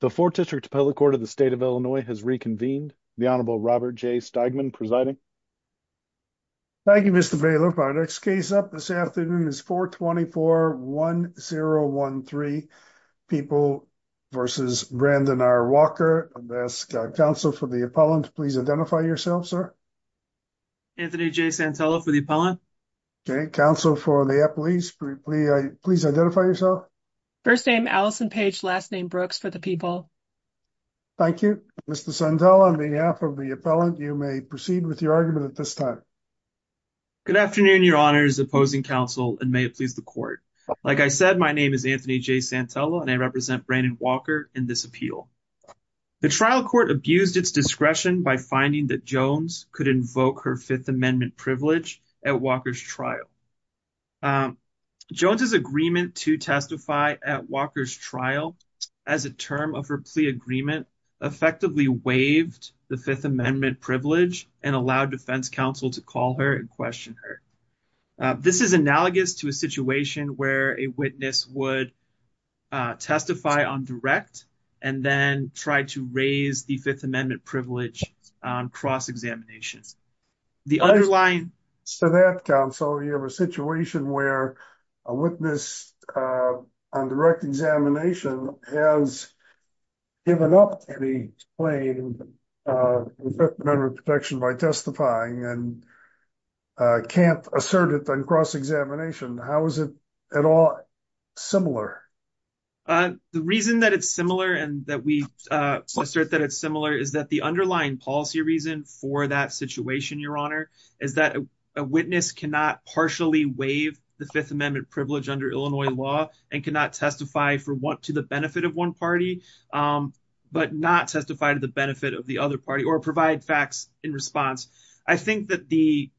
The 4th District Appellate Court of the State of Illinois has reconvened. The Honorable Robert J. Steigman presiding. Thank you, Mr. Bailiff. Our next case up this afternoon is 424-1013, People v. Brandon R. Walker. I'll ask counsel for the appellant. Please identify yourself, sir. Anthony J. Santello for the appellant. Okay. Counsel for the appellant, please identify yourself. First name Allison Page, last name Brooks for the people. Thank you. Mr. Santello, on behalf of the appellant, you may proceed with your argument at this time. Good afternoon, Your Honors, opposing counsel, and may it please the court. Like I said, my name is Anthony J. Santello, and I represent Brandon Walker in this appeal. The trial court abused its discretion by finding that Jones could invoke her Fifth Amendment privilege at Walker's trial. Um, Jones's agreement to testify at Walker's trial as a term of her plea agreement effectively waived the Fifth Amendment privilege and allowed defense counsel to call her and question her. This is analogous to a situation where a witness would testify on direct and then try to raise the Fifth Amendment privilege on cross-examination. The underlying... So that, counsel, you have a situation where a witness on direct examination has given up any claim of Fifth Amendment protection by testifying and can't assert it on cross-examination. How is it at all similar? The reason that it's similar and that we assert that it's similar is that the underlying policy reason for that situation, Your Honor, is that a witness cannot partially waive the Fifth Amendment privilege under Illinois law and cannot testify to the benefit of one party, but not testify to the benefit of the other party or provide facts in response. I think that the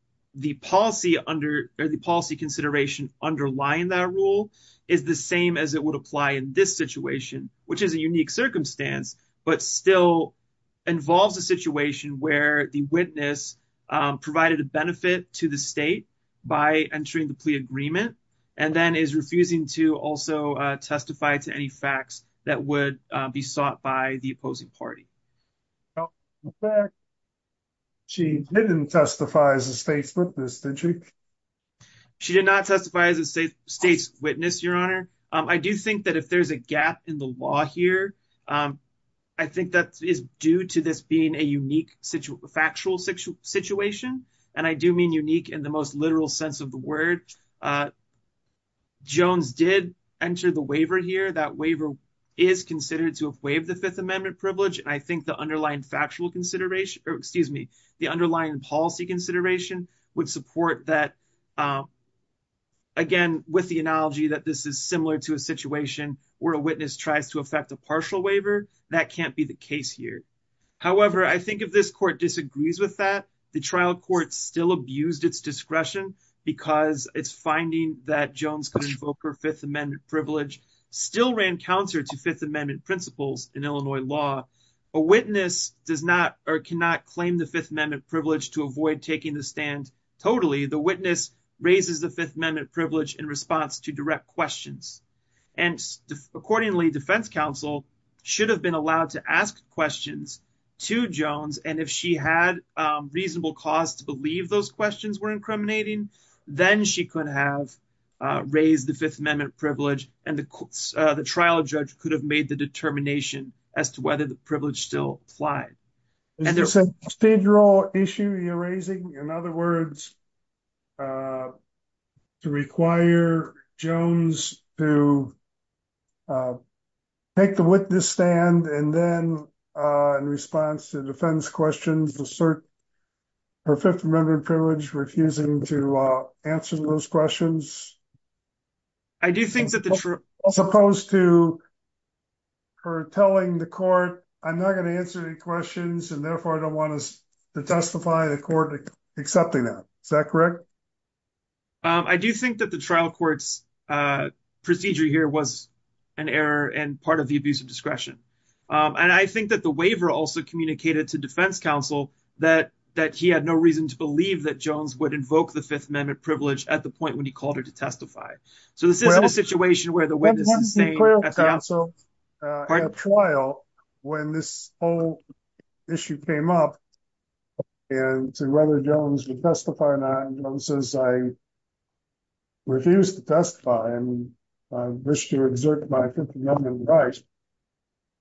policy consideration underlying that rule is the same as it would apply in this situation, which is a unique circumstance, but still involves a situation where the witness provided a benefit to the state by entering the plea agreement and then is refusing to also testify to any facts that would be sought by the opposing party. She didn't testify as a state's witness, did she? She did not testify as a state's witness, Your Honor. I do think that if there's a gap in the law here, I think that is due to this being a unique factual situation, and I do mean unique in the most literal sense of the word. Jones did enter the waiver here. That waiver is considered to have waived the Fifth Amendment privilege, and I think the underlying factual consideration, or excuse me, the underlying policy consideration would support that. Again, with the analogy that this is similar to a situation where a witness tries to affect a partial waiver, that can't be the case here. However, I think if this court disagrees with that, the trial court still abused its discretion because its finding that Jones could invoke her Fifth Amendment privilege still ran counter to Fifth Amendment principles in Illinois law. A witness does not or cannot claim the Fifth Amendment privilege to avoid taking the stand totally. The witness raises the Fifth Amendment privilege in response to direct questions. Accordingly, defense counsel should have been allowed to ask questions to Jones, and if she had reasonable cause to believe those questions were incriminating, then she could have raised the Fifth Amendment privilege and the trial judge could have made the determination as to whether the privilege still applied. Is this a procedural issue you're raising? In other words, to require Jones to take the witness stand and then in response to defense questions assert her Fifth Amendment privilege, refusing to answer those questions? I do think that the trial court's procedure here was an error and part of the abuse of discretion. I think that the waiver also communicated to defense counsel that he had no reason to believe that Jones would invoke the Fifth Amendment privilege at the point when he called her to testify. So this is a situation where the witness is saying at the trial when this whole issue came up and to whether Jones would testify or not, Jones says, I refuse to testify and I wish to exert my Fifth Amendment rights.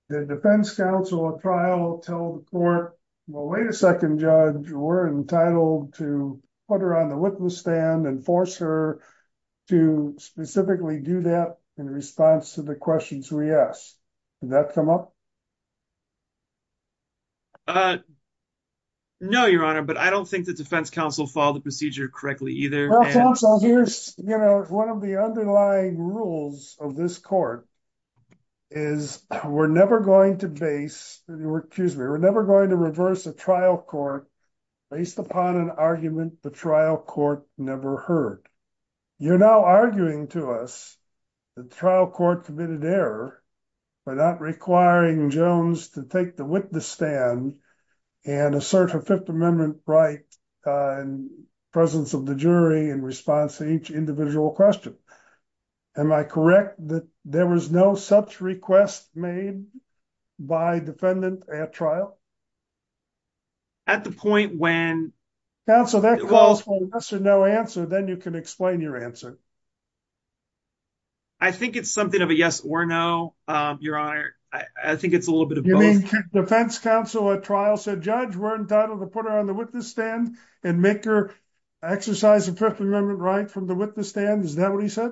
The defense counsel at trial will tell the court, well, wait a second, judge, you were entitled to put her on the witness stand and force to specifically do that in response to the questions we asked. Did that come up? No, your honor, but I don't think the defense counsel followed the procedure correctly either. One of the underlying rules of this court is we're never going to base, excuse me, we're never going to reverse a trial court based upon an argument the trial court never heard. You're now arguing to us the trial court committed error by not requiring Jones to take the witness stand and assert her Fifth Amendment right in presence of the jury in response to each individual question. Am I correct that there was no such request made by defendant at trial? At the point when counsel that calls for yes or no answer, then you can explain your answer. I think it's something of a yes or no, your honor. I think it's a little bit of both. Defense counsel at trial said judge, we're entitled to put her on the witness stand and make her exercise the Fifth Amendment right from the witness stand. Is that what he said?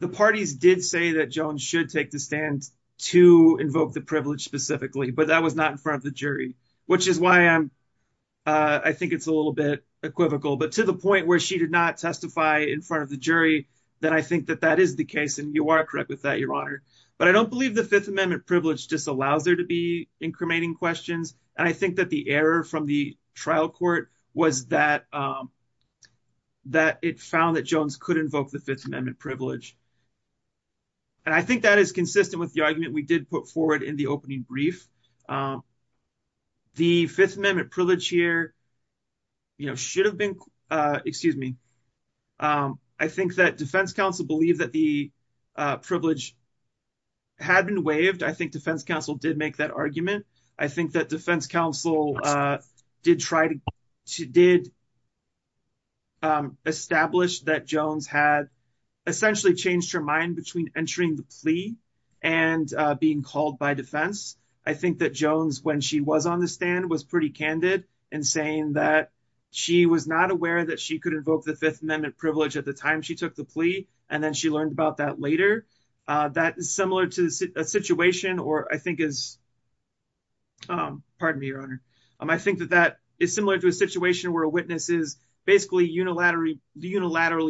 The parties did say that Jones should take the stand to invoke the privilege specifically, but that was not in front of the jury, which is why I think it's a little bit equivocal. But to the point where she did not testify in front of the jury, then I think that that is the case. And you are correct with that, your honor. But I don't believe the Fifth Amendment privilege just allows her to be incriminating questions. And I think that the error from the trial court was that it found that Jones could invoke the Fifth Amendment privilege. And I think that is consistent with the argument we did put forward in the opening brief. The Fifth Amendment privilege here should have been, excuse me. I think that defense counsel believed that the privilege had been waived. I think defense counsel did make that argument. I think that defense counsel did try to did establish that Jones had essentially changed her mind between entering the plea and being called by defense. I think that Jones, when she was on the stand, was pretty candid in saying that she was not aware that she could invoke the Fifth Amendment privilege at the time she took the plea. And then she learned about that later. That is similar to a situation or I think is, pardon me, your honor. I think that that is similar to a situation where a witness is unilaterally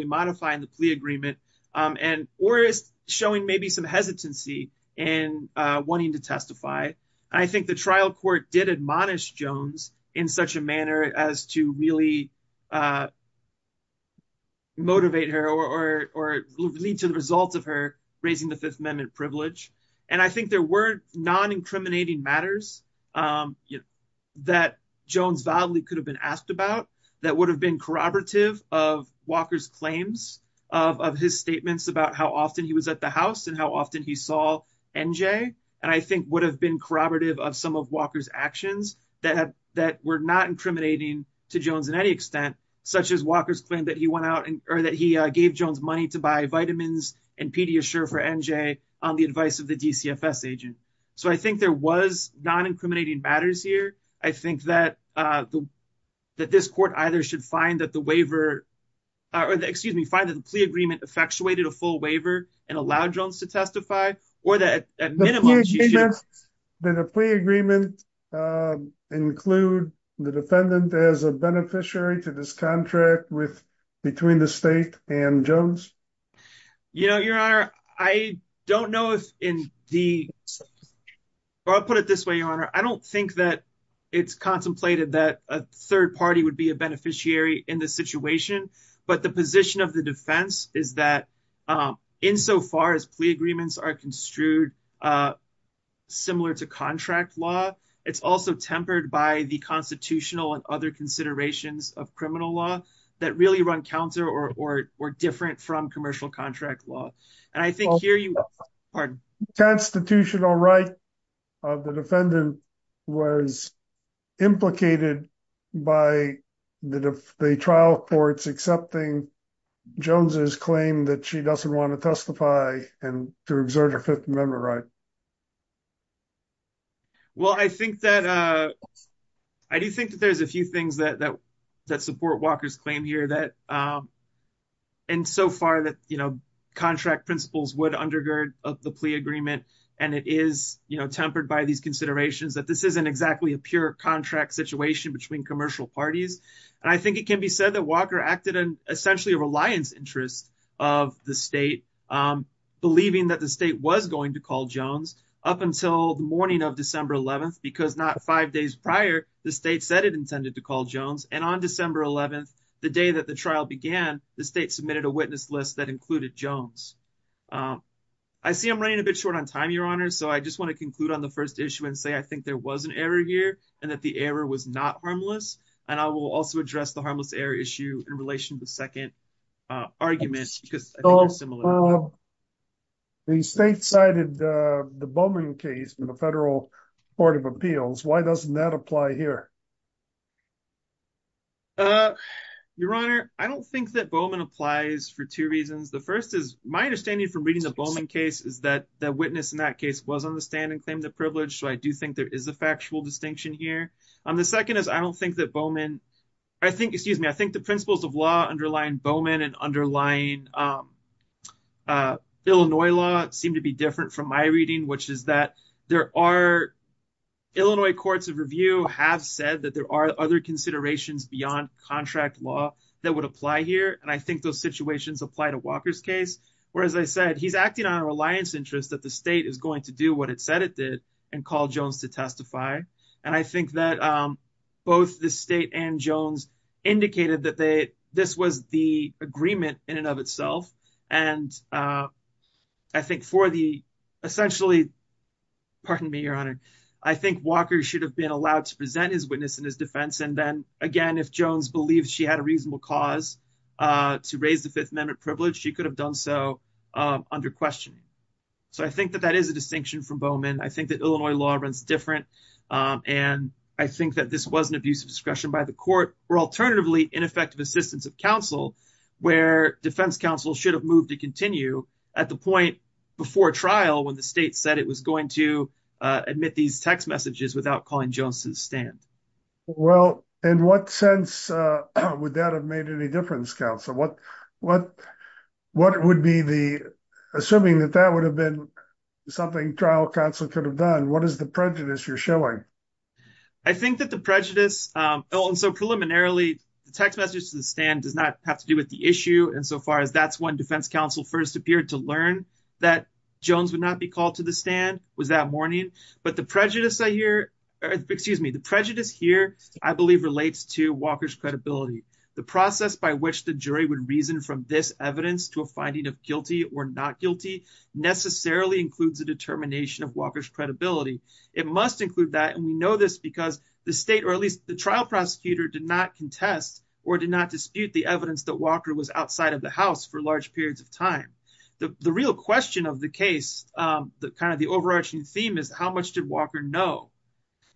modifying the plea agreement or is showing maybe some hesitancy in wanting to testify. I think the trial court did admonish Jones in such a manner as to really motivate her or lead to the results of her raising the Fifth Amendment privilege. And I think there were non-incriminating matters that Jones validly could have been asked about that would have been corroborative of Walker's claims of his statements about how often he was at the house and how often he saw NJ. And I think would have been corroborative of some of Walker's actions that were not incriminating to Jones in any extent, such as Walker's claim that he went out or that he gave Jones money to buy vitamins and Pediasure for NJ on the advice of the DCFS agent. So I think there was non-incriminating matters here. I think that that this court either should find that the waiver or the, excuse me, find that the plea agreement effectuated a full waiver and allowed Jones to testify or that at minimum that a plea agreement include the defendant as a beneficiary to this contract between the state and Jones. You know, your honor, I don't know if in the, or I'll put it this way, your honor. I don't think that it's contemplated that a third party would be a beneficiary in this situation, but the position of the defense is that in so far as plea agreements are construed similar to contract law, it's also tempered by the constitutional and other considerations of criminal law that really run counter or different from commercial contract law. And I think here you are constitutional right of the defendant was implicated by the trial courts accepting Jones's claim that she doesn't want to testify and to exert a fifth member, right? Well, I think that I do think that there's a few things that support Walker's claim here that, and so far that, you know, contract principles would undergird of the plea agreement. And it is, you know, tempered by these considerations that this isn't exactly a pure contract situation between commercial parties. And I think it can be said that Walker acted in essentially a reliance interest of the state, believing that the state was going to call Jones up until the morning of December 11th, because not five days prior, the state said it intended to call Jones. And on December 11th, the day that the trial began, the state submitted a witness list that included Jones. I see I'm running a bit short on time, your honor. So I just want to conclude on the first issue and say, I think there was an error here and that the error was not harmless. And I will also address the harmless error issue in relation to the second argument. The state cited the Bowman case in the federal court of appeals. Why doesn't that apply here? Uh, your honor, I don't think that Bowman applies for two reasons. The first is my understanding from reading the Bowman case is that the witness in that case was on the stand and claimed the privilege. So I do think there is a factual distinction here. And the second is, I don't think that Bowman, I think, excuse me, I think the principles of law underlying Bowman and underlying Illinois law seem to be different from my reading, which is that there are Illinois courts of review have said that there are other considerations beyond contract law that would apply here. And I think those situations apply to Walker's case, where, as I said, he's acting on a reliance interest that the state is going to do what it said it did and call Jones to testify. And I think that, um, both the state and Jones indicated that they, this was the agreement in and of itself. And, uh, I think for the essentially, pardon me, your honor, I think Walker should have been allowed to present his witness in his defense. And then again, if Jones believes she had a reasonable cause, uh, to raise the fifth amendment privilege, she could have done so, um, under questioning. So I think that that is a distinction from Bowman. I think that Illinois law runs different. Um, and I think that this wasn't abuse of discretion by the court or alternatively ineffective assistance of counsel where defense counsel should have moved to continue at the point before trial when the state said it was going to, uh, admit these text messages without calling Jones to the stand. Well, in what sense, uh, would that have made any difference counsel? What, what, what would be the, assuming that that would have been something trial counsel could have done? What is the prejudice you're showing? I think that the prejudice, um, and so preliminarily the text messages to the stand does not have to do with the issue. And so far as that's when defense counsel first appeared to learn that Jones would not be called to the stand was that morning, but the prejudice I hear, excuse me, the prejudice here, I believe relates to Walker's credibility, the process by which the jury would reason from this evidence to a finding of guilty or not guilty necessarily includes a determination of Walker's credibility. It must include that. And we know this because the state, or at least the trial prosecutor did not contest or did not dispute the evidence that Walker was outside of the house for large periods of time. The real question of the case, um, the kind of the overarching theme is how much did Walker know?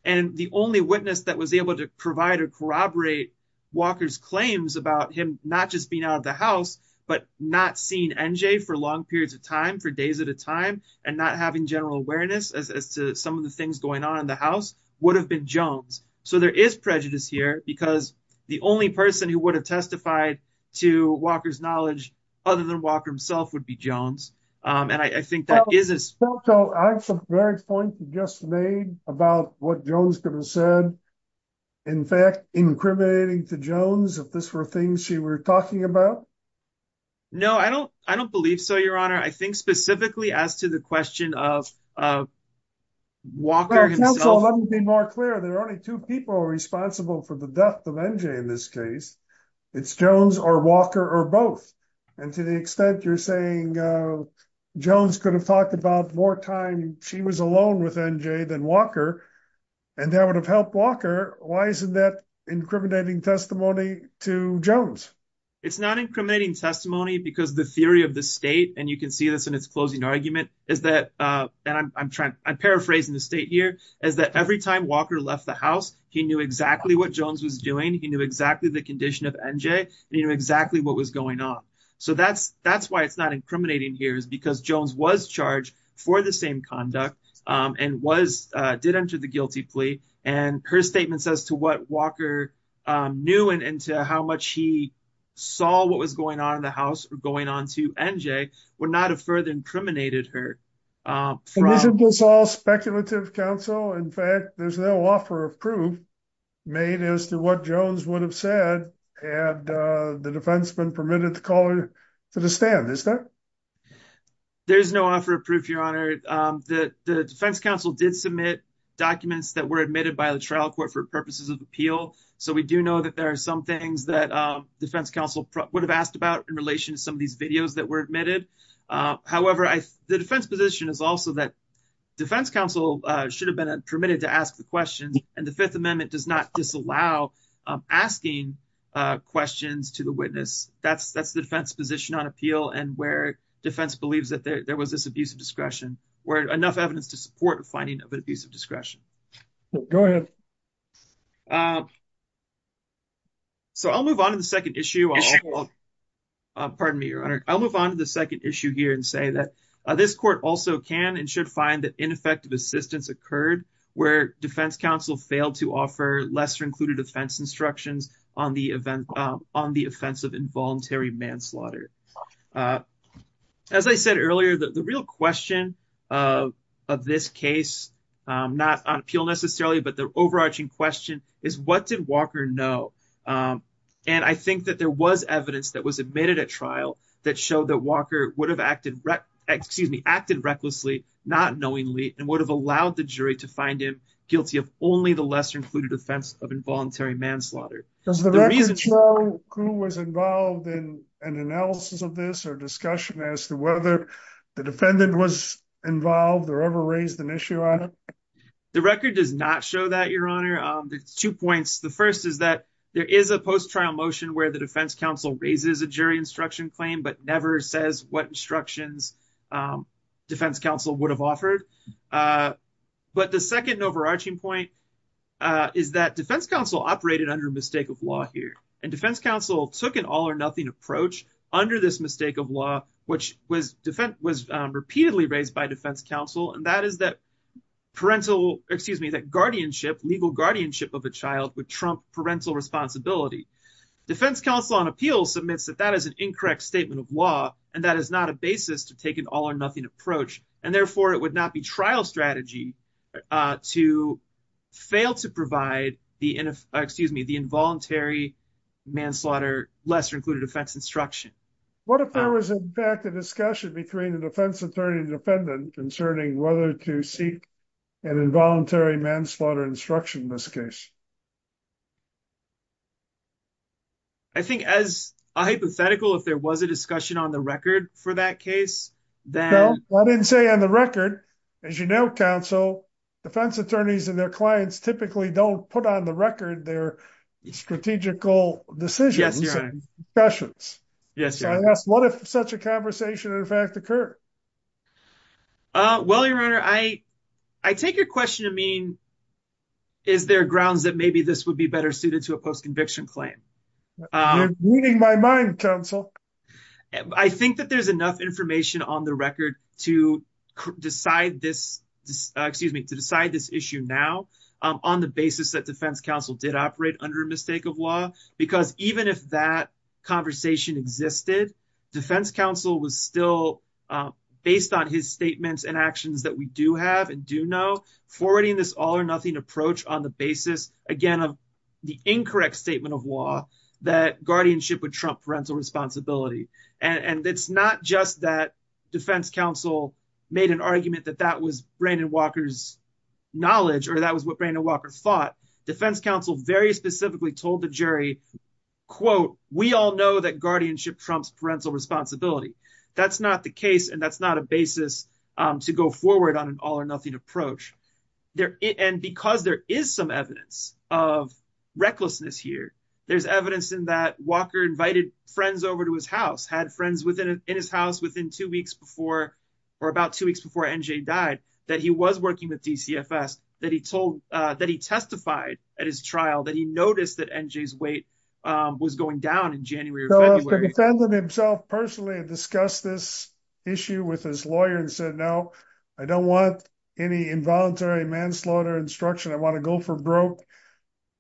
And the only witness that was able to provide or corroborate Walker's claims about him, not just being out of the house, but not seeing NJ for long periods of time for days at a time and not having general awareness as to some of the things going on in the house would have been Jones. So there is prejudice here because the only person who would have testified to Walker's knowledge, other than Walker himself would be Jones. Um, and I think that is as well. So I have some very point you just made about what Jones could have said. In fact, incriminating to Jones, if this were things she were talking about. No, I don't, I don't believe so. Your honor, I think specifically as to the question of, Walker himself. Let me be more clear. There are only two people responsible for the death of NJ in this case. It's Jones or Walker or both. And to the extent you're saying, uh, Jones could have talked about more time. She was alone with NJ than Walker. And that would have helped Walker. Why isn't that incriminating testimony to Jones? It's not incriminating testimony because the state, and you can see this in its closing argument is that, uh, and I'm, I'm trying, I'm paraphrasing the state here as that every time Walker left the house, he knew exactly what Jones was doing. He knew exactly the condition of NJ and he knew exactly what was going on. So that's, that's why it's not incriminating here is because Jones was charged for the same conduct, um, and was, uh, did enter the guilty plea. And her statement says to what Walker, um, knew and into how much he saw what was going on in the house or going on to NJ would not have further incriminated her, uh, from all speculative counsel. In fact, there's no offer of proof made as to what Jones would have said. And, uh, the defenseman permitted the caller to the stand. Is that there's no offer of proof. Your honor, um, the, the defense council did submit documents that were admitted by the trial court for purposes of appeal. So we do know that there are some things that, um, defense counsel would have asked about in relation to some of these videos that were admitted. Uh, however, I, the defense position is also that defense council, uh, should have been permitted to ask the questions and the fifth amendment does not disallow, um, asking, uh, questions to the witness. That's, that's the defense position on appeal and where defense believes that there was this abuse of discretion where enough evidence to support finding of an abuse of discretion. Go ahead. Um, so I'll move on to the second issue. Pardon me, your honor. I'll move on to the second issue here and say that this court also can and should find that ineffective assistance occurred where defense counsel failed to offer lesser included offense instructions on the event, um, on the offensive involuntary manslaughter. Uh, as I said earlier that the real question of, of this case, um, not on appeal necessarily, but the overarching question is what did Walker know? Um, and I think that there was evidence that was admitted at trial that showed that Walker would have acted, excuse me, acted recklessly, not knowingly, and would have allowed the jury to find him guilty of only the lesser included offense of involuntary manslaughter. Does the record show who was involved in an analysis of this or discussion as to whether the defendant was involved or ever raised an issue on it? The record does not show that your honor. Um, there's two points. The first is that there is a post trial motion where the defense counsel raises a jury instruction claim, but never says what instructions, um, defense counsel would have offered. Uh, but the second overarching point, uh, is that defense counsel operated under mistake of law here and defense counsel took an all or nothing approach under this mistake of law, which was defense was repeatedly raised by defense counsel. And that is that parental, excuse me, that guardianship legal guardianship of a child would trump parental responsibility. Defense counsel on appeal submits that that is an incorrect statement of law. And that is not a basis to take an all or nothing approach. And therefore it would not be trial strategy, uh, to fail to provide the NF, excuse me, involuntary manslaughter, lesser included offense instruction. What if there was a back to discussion between the defense attorney and defendant concerning whether to seek an involuntary manslaughter instruction in this case? I think as a hypothetical, if there was a discussion on the record for that case, then I didn't say on the record, as you know, counsel, defense attorneys and their clients typically don't put on the record their strategical decisions. Yes. What if such a conversation in fact occur? Uh, well, your Honor, I, I take your question. I mean, is there grounds that maybe this would be better suited to a post conviction claim? Weeding my mind council. I think that there's enough information on the record to decide this, excuse me, to decide this issue now, um, on the basis that defense counsel did operate under a mistake of law, because even if that conversation existed, defense counsel was still, um, based on his statements and actions that we do have and do know forwarding this all or nothing approach on the basis, again, of the incorrect statement of law that guardianship would Trump parental responsibility. And it's not just that defense counsel made an argument that that was Brandon Walker's knowledge, or that was what Brandon Walker thought defense council very specifically told the jury quote, we all know that guardianship Trump's parental responsibility. That's not the case. And that's not a basis, um, to go forward on an all or nothing approach there. And because there is some evidence of recklessness here, there's evidence in that Walker invited friends over to his house, had friends within his house within two weeks before, or about two weeks before NJ died, that he was working with DCFS that he told, uh, that he testified at his trial that he noticed that NJ's weight was going down in January, himself personally discussed this issue with his lawyer and said, no, I don't want any involuntary manslaughter instruction. I want to go for broke.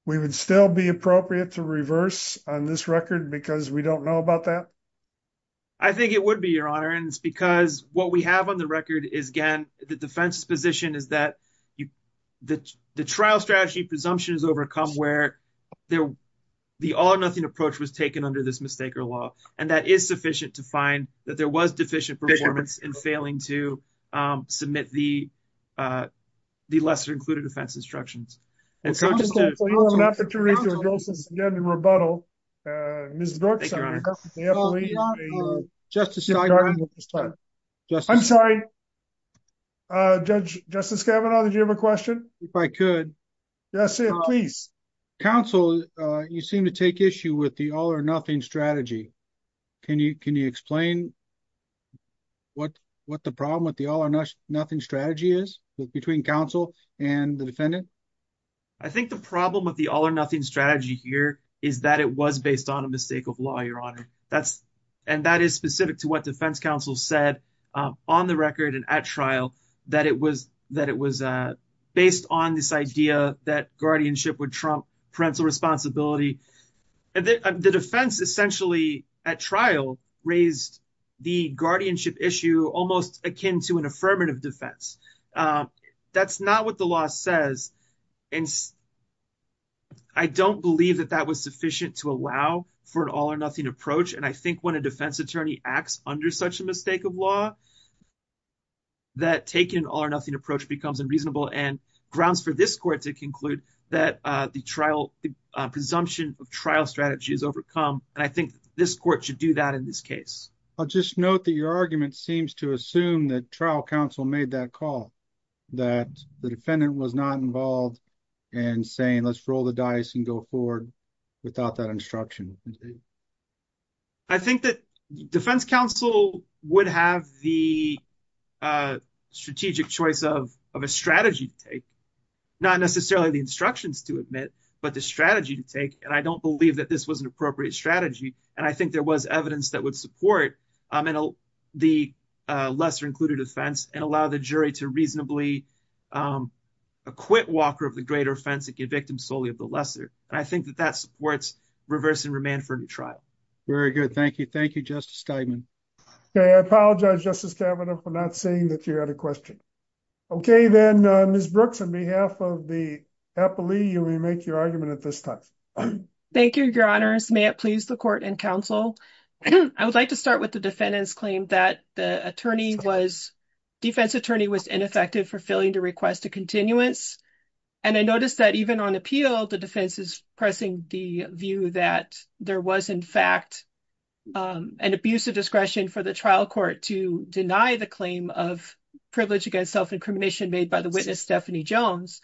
We would still be appropriate to reverse on this record because we don't know about that. I think it would be your honor. And it's because what we have on the record is again, the defense's position is that you, the, the trial strategy presumption is overcome where there, the all or nothing approach was taken under this mistake or law. And that is sufficient to find that there was deficient performance in failing to, um, submit the, uh, the lesser included offense instructions. And so just to read the rebuttal, uh, I'm sorry, uh, judge, justice, Kevin, did you have a question? If I could, yes, please counsel. Uh, you seem to take issue with the all or nothing strategy. Can you, can you explain what, what the problem with the all or nothing strategy is between counsel and the defendant? I think the problem with the all or nothing strategy here is that it was based on a mistake of law. You're on it. That's, and that is specific to what defense counsel said, um, on the record and at trial that it was, that it was, uh, based on this idea that guardianship would trump parental responsibility. And the defense essentially at trial raised the guardianship issue, almost akin to an affirmative defense. Um, that's not what the law says. And I don't believe that that was sufficient to allow for an all or nothing approach. And I think when a defense attorney acts under such a mistake of law, that taken all or nothing approach becomes unreasonable and grounds for this court to conclude that, uh, the trial presumption of trial strategy is overcome. And I think this court should do that in this case. I'll just note that your argument seems to assume that trial counsel made that call, that the defendant was not involved and saying, let's roll the dice and go forward without that instruction. I think that defense counsel would have the, uh, strategic choice of, of a strategy to take, not necessarily the instructions to admit, but the strategy to take. And I don't believe that this was an appropriate strategy. And I think there was evidence that would support, um, and the, uh, lesser included offense and allow the jury to reasonably, um, acquit Walker of the greater offense and get victims solely of the lesser. And I think that that supports reverse and remand for the trial. Very good. Thank you. Thank you, Justice. Okay. I apologize, Justice Kavanaugh for not saying that you had a question. Okay. Then, uh, Ms. Brooks, on behalf of the happily, you may make your argument at this time. Thank you, your honors. May it please the court and counsel. I would like to start with the defendant's claim that the attorney was defense attorney was ineffective for failing to request a continuance. And I noticed that even on appeal, the defense is pressing the view that there was in fact, um, an abuse of discretion for the trial court to deny the claim of privilege against self incrimination made by the witness, Stephanie Jones.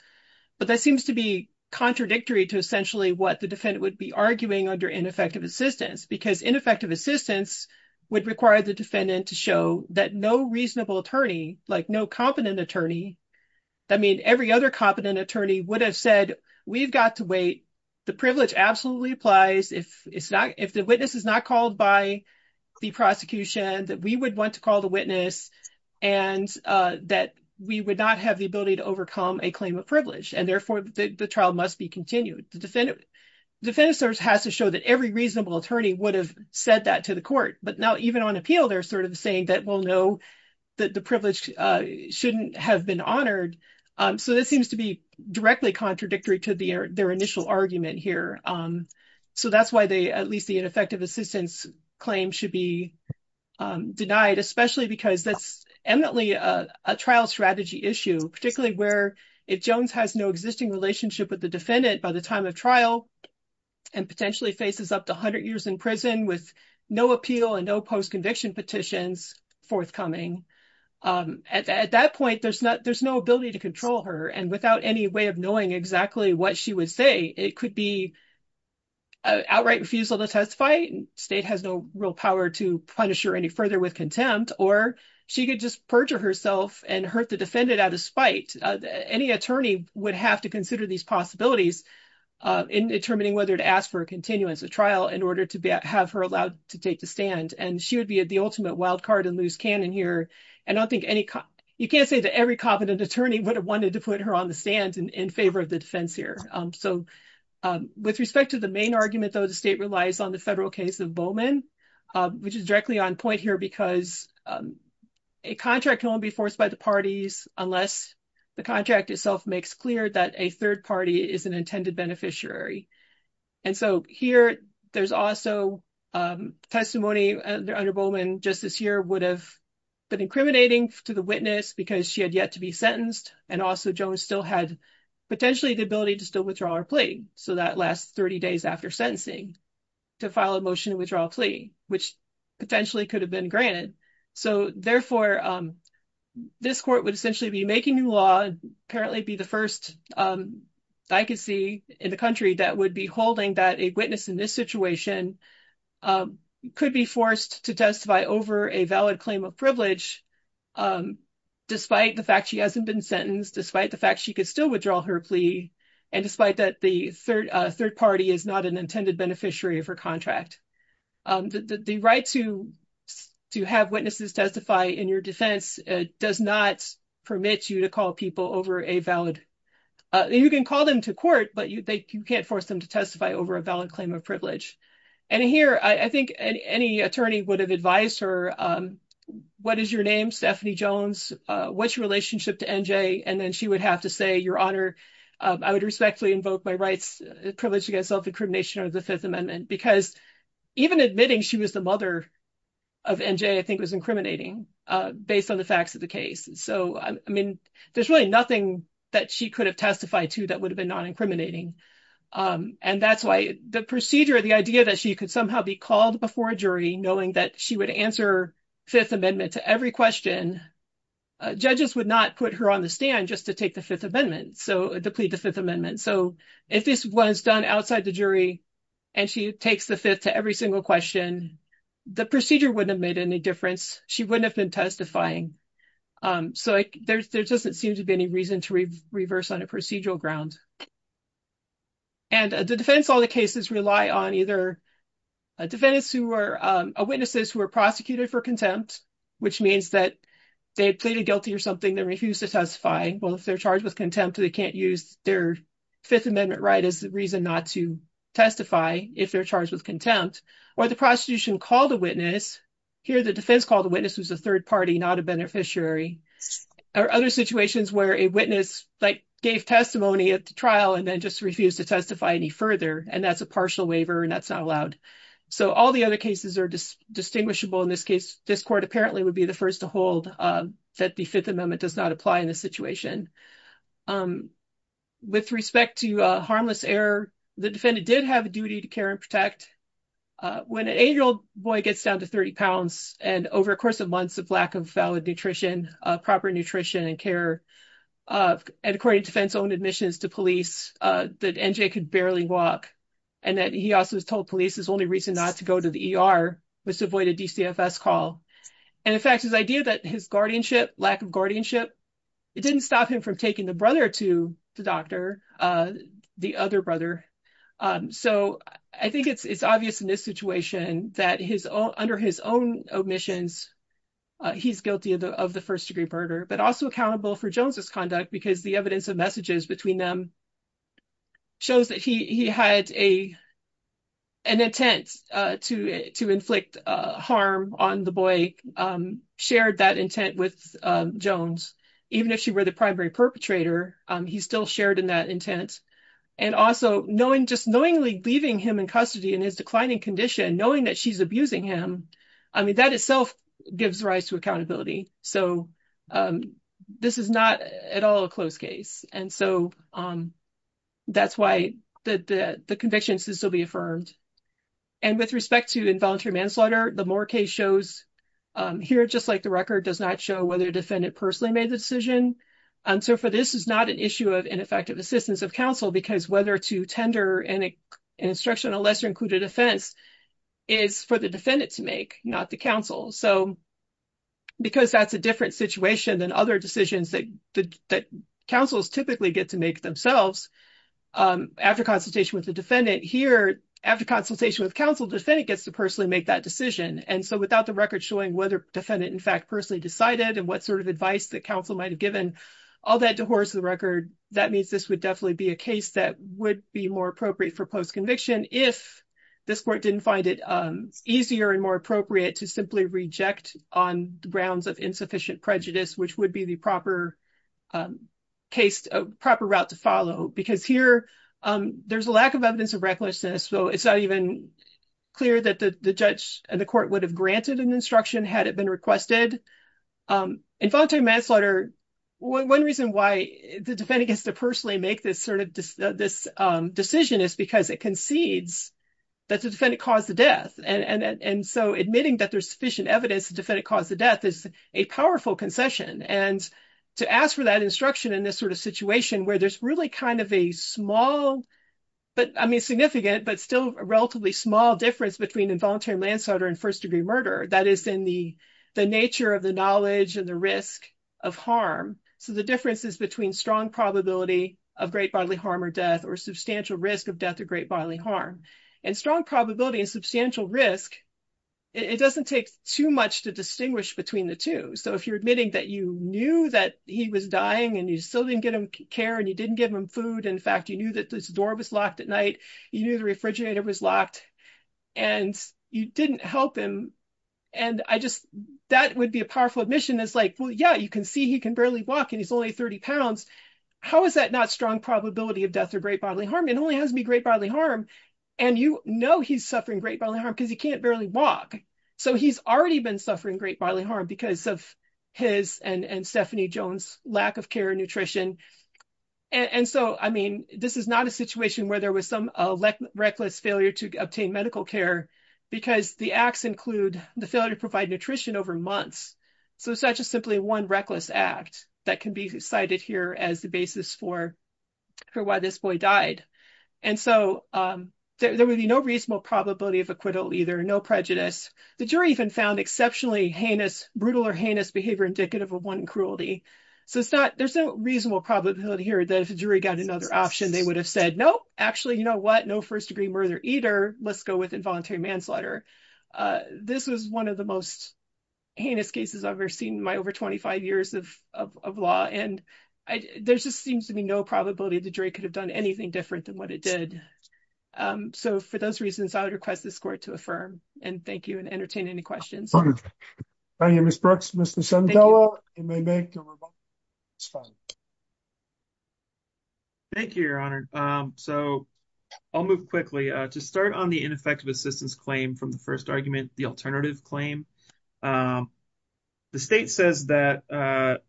But that seems to be contradictory to what the defendant would be arguing under ineffective assistance, because ineffective assistance would require the defendant to show that no reasonable attorney, like no competent attorney. I mean, every other competent attorney would have said, we've got to wait. The privilege absolutely applies. If it's not, if the witness is not called by the prosecution that we would want to call the witness and, uh, that we would not have the ability to overcome a claim of and therefore the trial must be continued. The defendant has to show that every reasonable attorney would have said that to the court, but now even on appeal, they're sort of saying that we'll know that the privilege shouldn't have been honored. Um, so this seems to be directly contradictory to the, their initial argument here. Um, so that's why they, at least the ineffective assistance claim should be, um, denied, especially because that's eminently a trial strategy issue, particularly where if Jones has no existing relationship with the defendant by the time of trial and potentially faces up to a hundred years in prison with no appeal and no post-conviction petitions forthcoming, um, at that point, there's not, there's no ability to control her. And without any way of knowing exactly what she would say, it could be an outright refusal to testify. State has no real power to punish her any further with contempt, or she could just perjure herself and hurt the defendant out of spite. Uh, any attorney would have to consider these possibilities, uh, in determining whether to ask for a continuance of trial in order to have her allowed to take the stand. And she would be at the ultimate wild card and lose canon here. And I don't think any, you can't say that every competent attorney would have wanted to put her on the stand in favor of the defense here. Um, so, um, with respect to the main argument though, the state relies on the federal case of Bowman, um, which is directly on point here because, um, a contract won't be forced by the parties unless the contract itself makes clear that a third party is an intended beneficiary. And so here there's also, um, testimony under Bowman just this year would have been incriminating to the witness because she had yet to be sentenced. And also Jones still had potentially the ability to still withdraw her plea. So that lasts 30 days after to file a motion to withdraw plea, which potentially could have been granted. So therefore, um, this court would essentially be making new law, apparently be the first, um, I could see in the country that would be holding that a witness in this situation, um, could be forced to testify over a valid claim of privilege. Um, despite the fact she hasn't been sentenced, despite the fact she could still withdraw her plea. And despite that the third, uh, third party is not an intended beneficiary of her contract. Um, the, the, the right to, to have witnesses testify in your defense, uh, does not permit you to call people over a valid, uh, you can call them to court, but you, they, you can't force them to testify over a valid claim of privilege. And here I think any attorney would have advised her, um, what is your name? Stephanie Jones, uh, what's your relationship to NJ? And then she would have to say your honor, um, I would respectfully invoke my rights privilege against self-incrimination under the fifth amendment, because even admitting she was the mother of NJ, I think was incriminating, uh, based on the facts of the case. So, I mean, there's really nothing that she could have testified to that would have been non-incriminating. Um, and that's why the procedure, the idea that she could somehow be called before a jury, knowing that she would answer fifth amendment to every question, uh, judges would not put her on the stand just to take the fifth amendment. So, to plead the fifth amendment. So, if this was done outside the jury and she takes the fifth to every single question, the procedure wouldn't have made any difference. She wouldn't have been testifying. Um, so I, there, there doesn't seem to be any reason to reverse on a procedural ground. And, uh, the defense, all the cases rely on either, uh, defendants who are, um, uh, they pleaded guilty or something, they refuse to testify. Well, if they're charged with contempt, they can't use their fifth amendment right as a reason not to testify if they're charged with contempt or the prostitution called a witness. Here, the defense called the witness was a third party, not a beneficiary or other situations where a witness like gave testimony at the trial and then just refused to testify any further. And that's a partial waiver and that's not allowed. So, all the other cases are just distinguishable. In this case, this court apparently would be the first to hold, um, that the fifth amendment does not apply in this situation. Um, with respect to, uh, harmless error, the defendant did have a duty to care and protect, uh, when an eight-year-old boy gets down to 30 pounds and over a course of months of lack of valid nutrition, uh, proper nutrition and care, uh, and according to defense-owned admissions to police, uh, that NJ could barely walk and that he also was told police his only reason not to go to the ER was to avoid a call. And in fact, his idea that his guardianship, lack of guardianship, it didn't stop him from taking the brother to the doctor, uh, the other brother. Um, so, I think it's, it's obvious in this situation that his own, under his own omissions, uh, he's guilty of the, of the first degree murder, but also accountable for Jones's conduct because the evidence of messages between them shows that he, he had a, an intent, uh, to, to inflict, uh, harm on the boy, um, shared that intent with, um, Jones. Even if she were the primary perpetrator, um, he still shared in that intent and also knowing, just knowingly leaving him in custody in his declining condition, knowing that she's abusing him, I mean, that itself gives rise to accountability. So, um, this is not at all a closed case. And so, um, that's why the, the, the conviction should still be affirmed. And with respect to involuntary manslaughter, the Moore case shows, um, here, just like the record does not show whether a defendant personally made the decision. And so, for this is not an issue of ineffective assistance of counsel because whether to tender an instructional lesser included offense is for the defendant to make, not the counsel. So, because that's a different situation than other decisions that, that, that counsels typically get to make themselves, um, after consultation with the defendant here, after consultation with counsel, defendant gets to personally make that decision. And so, without the record showing whether defendant in fact personally decided and what sort of advice that counsel might've given, all that dehorses the record, that means this would definitely be a case that would be more appropriate for post-conviction if this court didn't find it, um, easier and more appropriate to simply reject on the grounds of insufficient prejudice, which would be the proper, um, case, proper route to follow. Because here, um, there's a lack of evidence of recklessness. So, it's not even clear that the, the judge and the court would have granted an instruction had it been requested. Um, involuntary manslaughter, one reason why the defendant gets to personally make this sort of this, um, decision is because it concedes that the defendant caused the death. And, and, and so admitting that there's sufficient evidence the defendant caused the death is a powerful concession. And to ask for that instruction in this sort of situation where there's really kind of a small, but, I mean, significant, but still relatively small difference between involuntary manslaughter and first-degree murder, that is in the, the nature of the knowledge and the risk of harm. So, the difference is between strong probability of great bodily harm or death or substantial risk of death or great bodily harm. And strong probability and substantial risk, it doesn't take too much to distinguish between the two. So, if you're admitting that you knew that he was dying and you still didn't get him care and you didn't give him food. In fact, you knew that this door was locked at night. You knew the refrigerator was locked and you didn't help him. And I just, that would be a powerful admission is like, well, yeah, you can see he can barely walk and he's only 30 pounds. How is that not strong probability of death or great bodily harm? It only has to be great bodily harm. And you know, he's suffering great bodily harm because he can't barely walk. So, he's already been suffering great bodily harm because of his and Stephanie Jones' lack of care and nutrition. And so, I mean, this is not a situation where there was some reckless failure to obtain medical care because the acts include the failure to provide nutrition over months. So, it's not just simply one reckless act that can be cited here as the basis for why this boy died. And so, there would be no reasonable probability of acquittal either, no prejudice. The jury even found exceptionally heinous, brutal or heinous behavior indicative of one cruelty. So, it's not, there's no reasonable probability here that if the jury got another option, they would have said, nope, actually, you know what? No first degree murder either. Let's go with involuntary manslaughter. This was one of the most heinous cases I've ever seen in my over 25 years of law. And there just seems to be no probability the jury could have done anything different than what it did. So, for those reasons, I would request this court to affirm and thank you and entertain any questions. Thank you, Ms. Brooks. Mr. Sandella, you may make your rebuttal. It's fine. Thank you, Your Honor. So, I'll move quickly. To start on the ineffective assistance claim from the first argument, the alternative claim, the state says that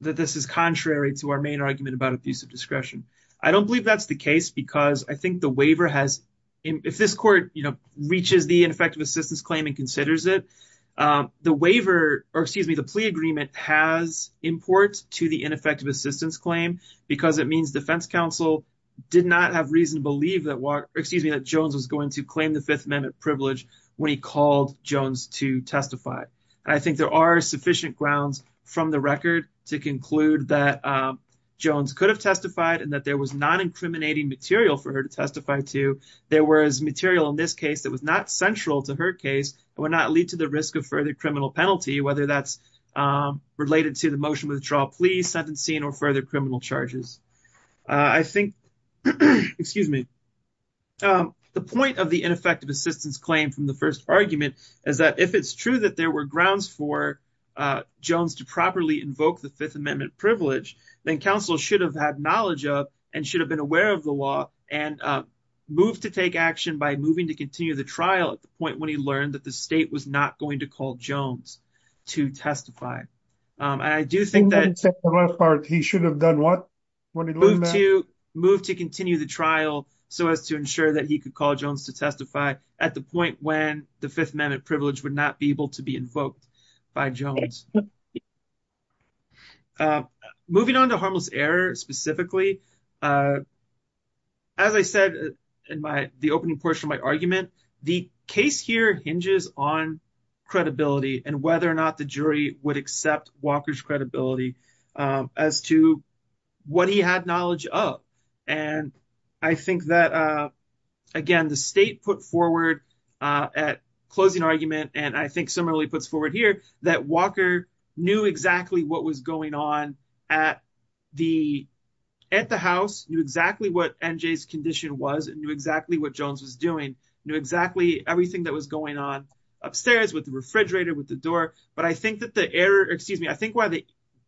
this is contrary to our main argument about abusive discretion. I don't believe that's the case because I think the waiver has, if this court, you know, reaches the ineffective assistance claim and considers it. The waiver, or excuse me, the plea agreement has import to the ineffective assistance claim because it means defense counsel did not have reason to believe that, excuse me, that Jones was going to claim the Fifth Amendment privilege when he called Jones to testify. I think there are sufficient grounds from the record to conclude that Jones could have testified and that there was non-incriminating material for her to testify to. There was material in this case that was not central to her case and would not lead to the risk of further criminal penalty, whether that's related to the motion withdrawal plea, sentencing, or further criminal charges. I think, excuse me, the point of the ineffective assistance claim from the first argument is that if it's true that there were grounds for Jones to properly invoke the Fifth Amendment privilege, then counsel should have had knowledge of and should have been aware of the law and moved to take action by moving to continue the trial at the point when he learned that the state was not going to call Jones to testify. I do think that... He should have done what when he learned that? Moved to continue the trial so as to ensure that he could call Jones to testify at the point when the Fifth Amendment privilege would not be able to be invoked by Jones. Moving on to harmless error, specifically, as I said in the opening portion of my argument, the case here hinges on credibility and whether or not the jury would accept Walker's credibility as to what he had knowledge of. I think that, again, the state put forward at closing argument, and I think similarly puts forward here, that Walker knew exactly what was going on at the house, knew exactly what NJ's condition was, and knew exactly what Jones was doing, knew exactly everything that was going on upstairs with the refrigerator, with the door. But I think that the error, excuse me, I think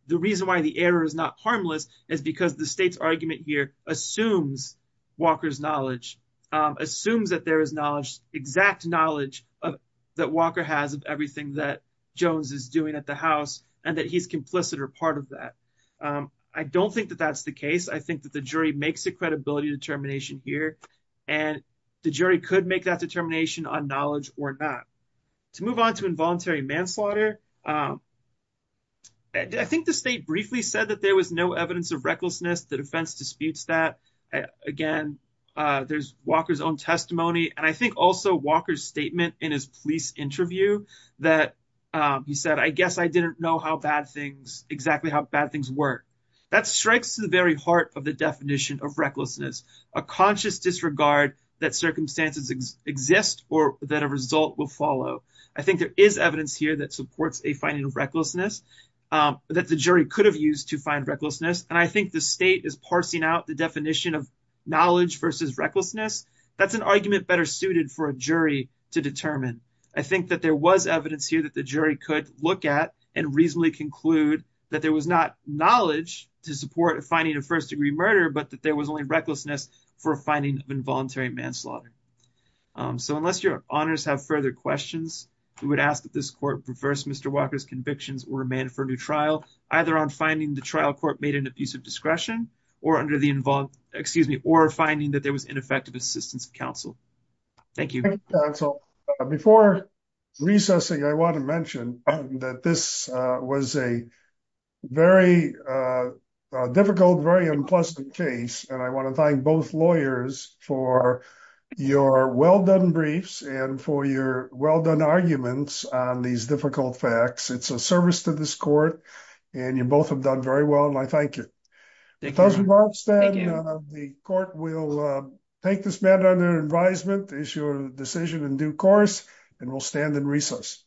the reason why the error is not harmless is because the state's argument here assumes Walker's knowledge, assumes that there is knowledge, exact knowledge that Walker has of everything that Jones is doing at the house, and that he's complicit or part of that. I don't think that that's the case. I think that the jury makes a credibility determination here, and the jury could make that determination on knowledge or not. To move on to involuntary manslaughter, I think the state briefly said that there was no evidence of recklessness. The defense disputes that. Again, there's Walker's own testimony. And I think also Walker's statement in his police interview that he said, I guess I didn't know exactly how bad things were. That strikes to the very heart of the definition of recklessness, a conscious disregard that circumstances exist or that a result will follow. I think there is evidence here that supports a finding of recklessness, that the jury could have used to find recklessness. And I think the state is parsing out the definition of knowledge versus recklessness. That's an argument better suited for a jury to determine. I think that there was evidence here that the jury could look at and reasonably conclude that there was not knowledge to support finding a first degree murder, but that there was only recklessness for a finding of involuntary manslaughter. So unless your honors have further questions, we would ask that this court reverse Mr. Walker's convictions or a man for new trial, either on finding the trial court made an abuse of discretion or under the involved, excuse me, or finding that there was ineffective assistance of counsel. Thank you. Thank you counsel. Before recessing, I want to mention that this was a very difficult, very unpleasant case. And I want to thank both lawyers for your well-done briefs and for your well-done arguments on these difficult facts. It's a service to this court and you both have done very well and I thank you. The court will take this matter under advisement, issue a decision in due course, and we'll stand in recess.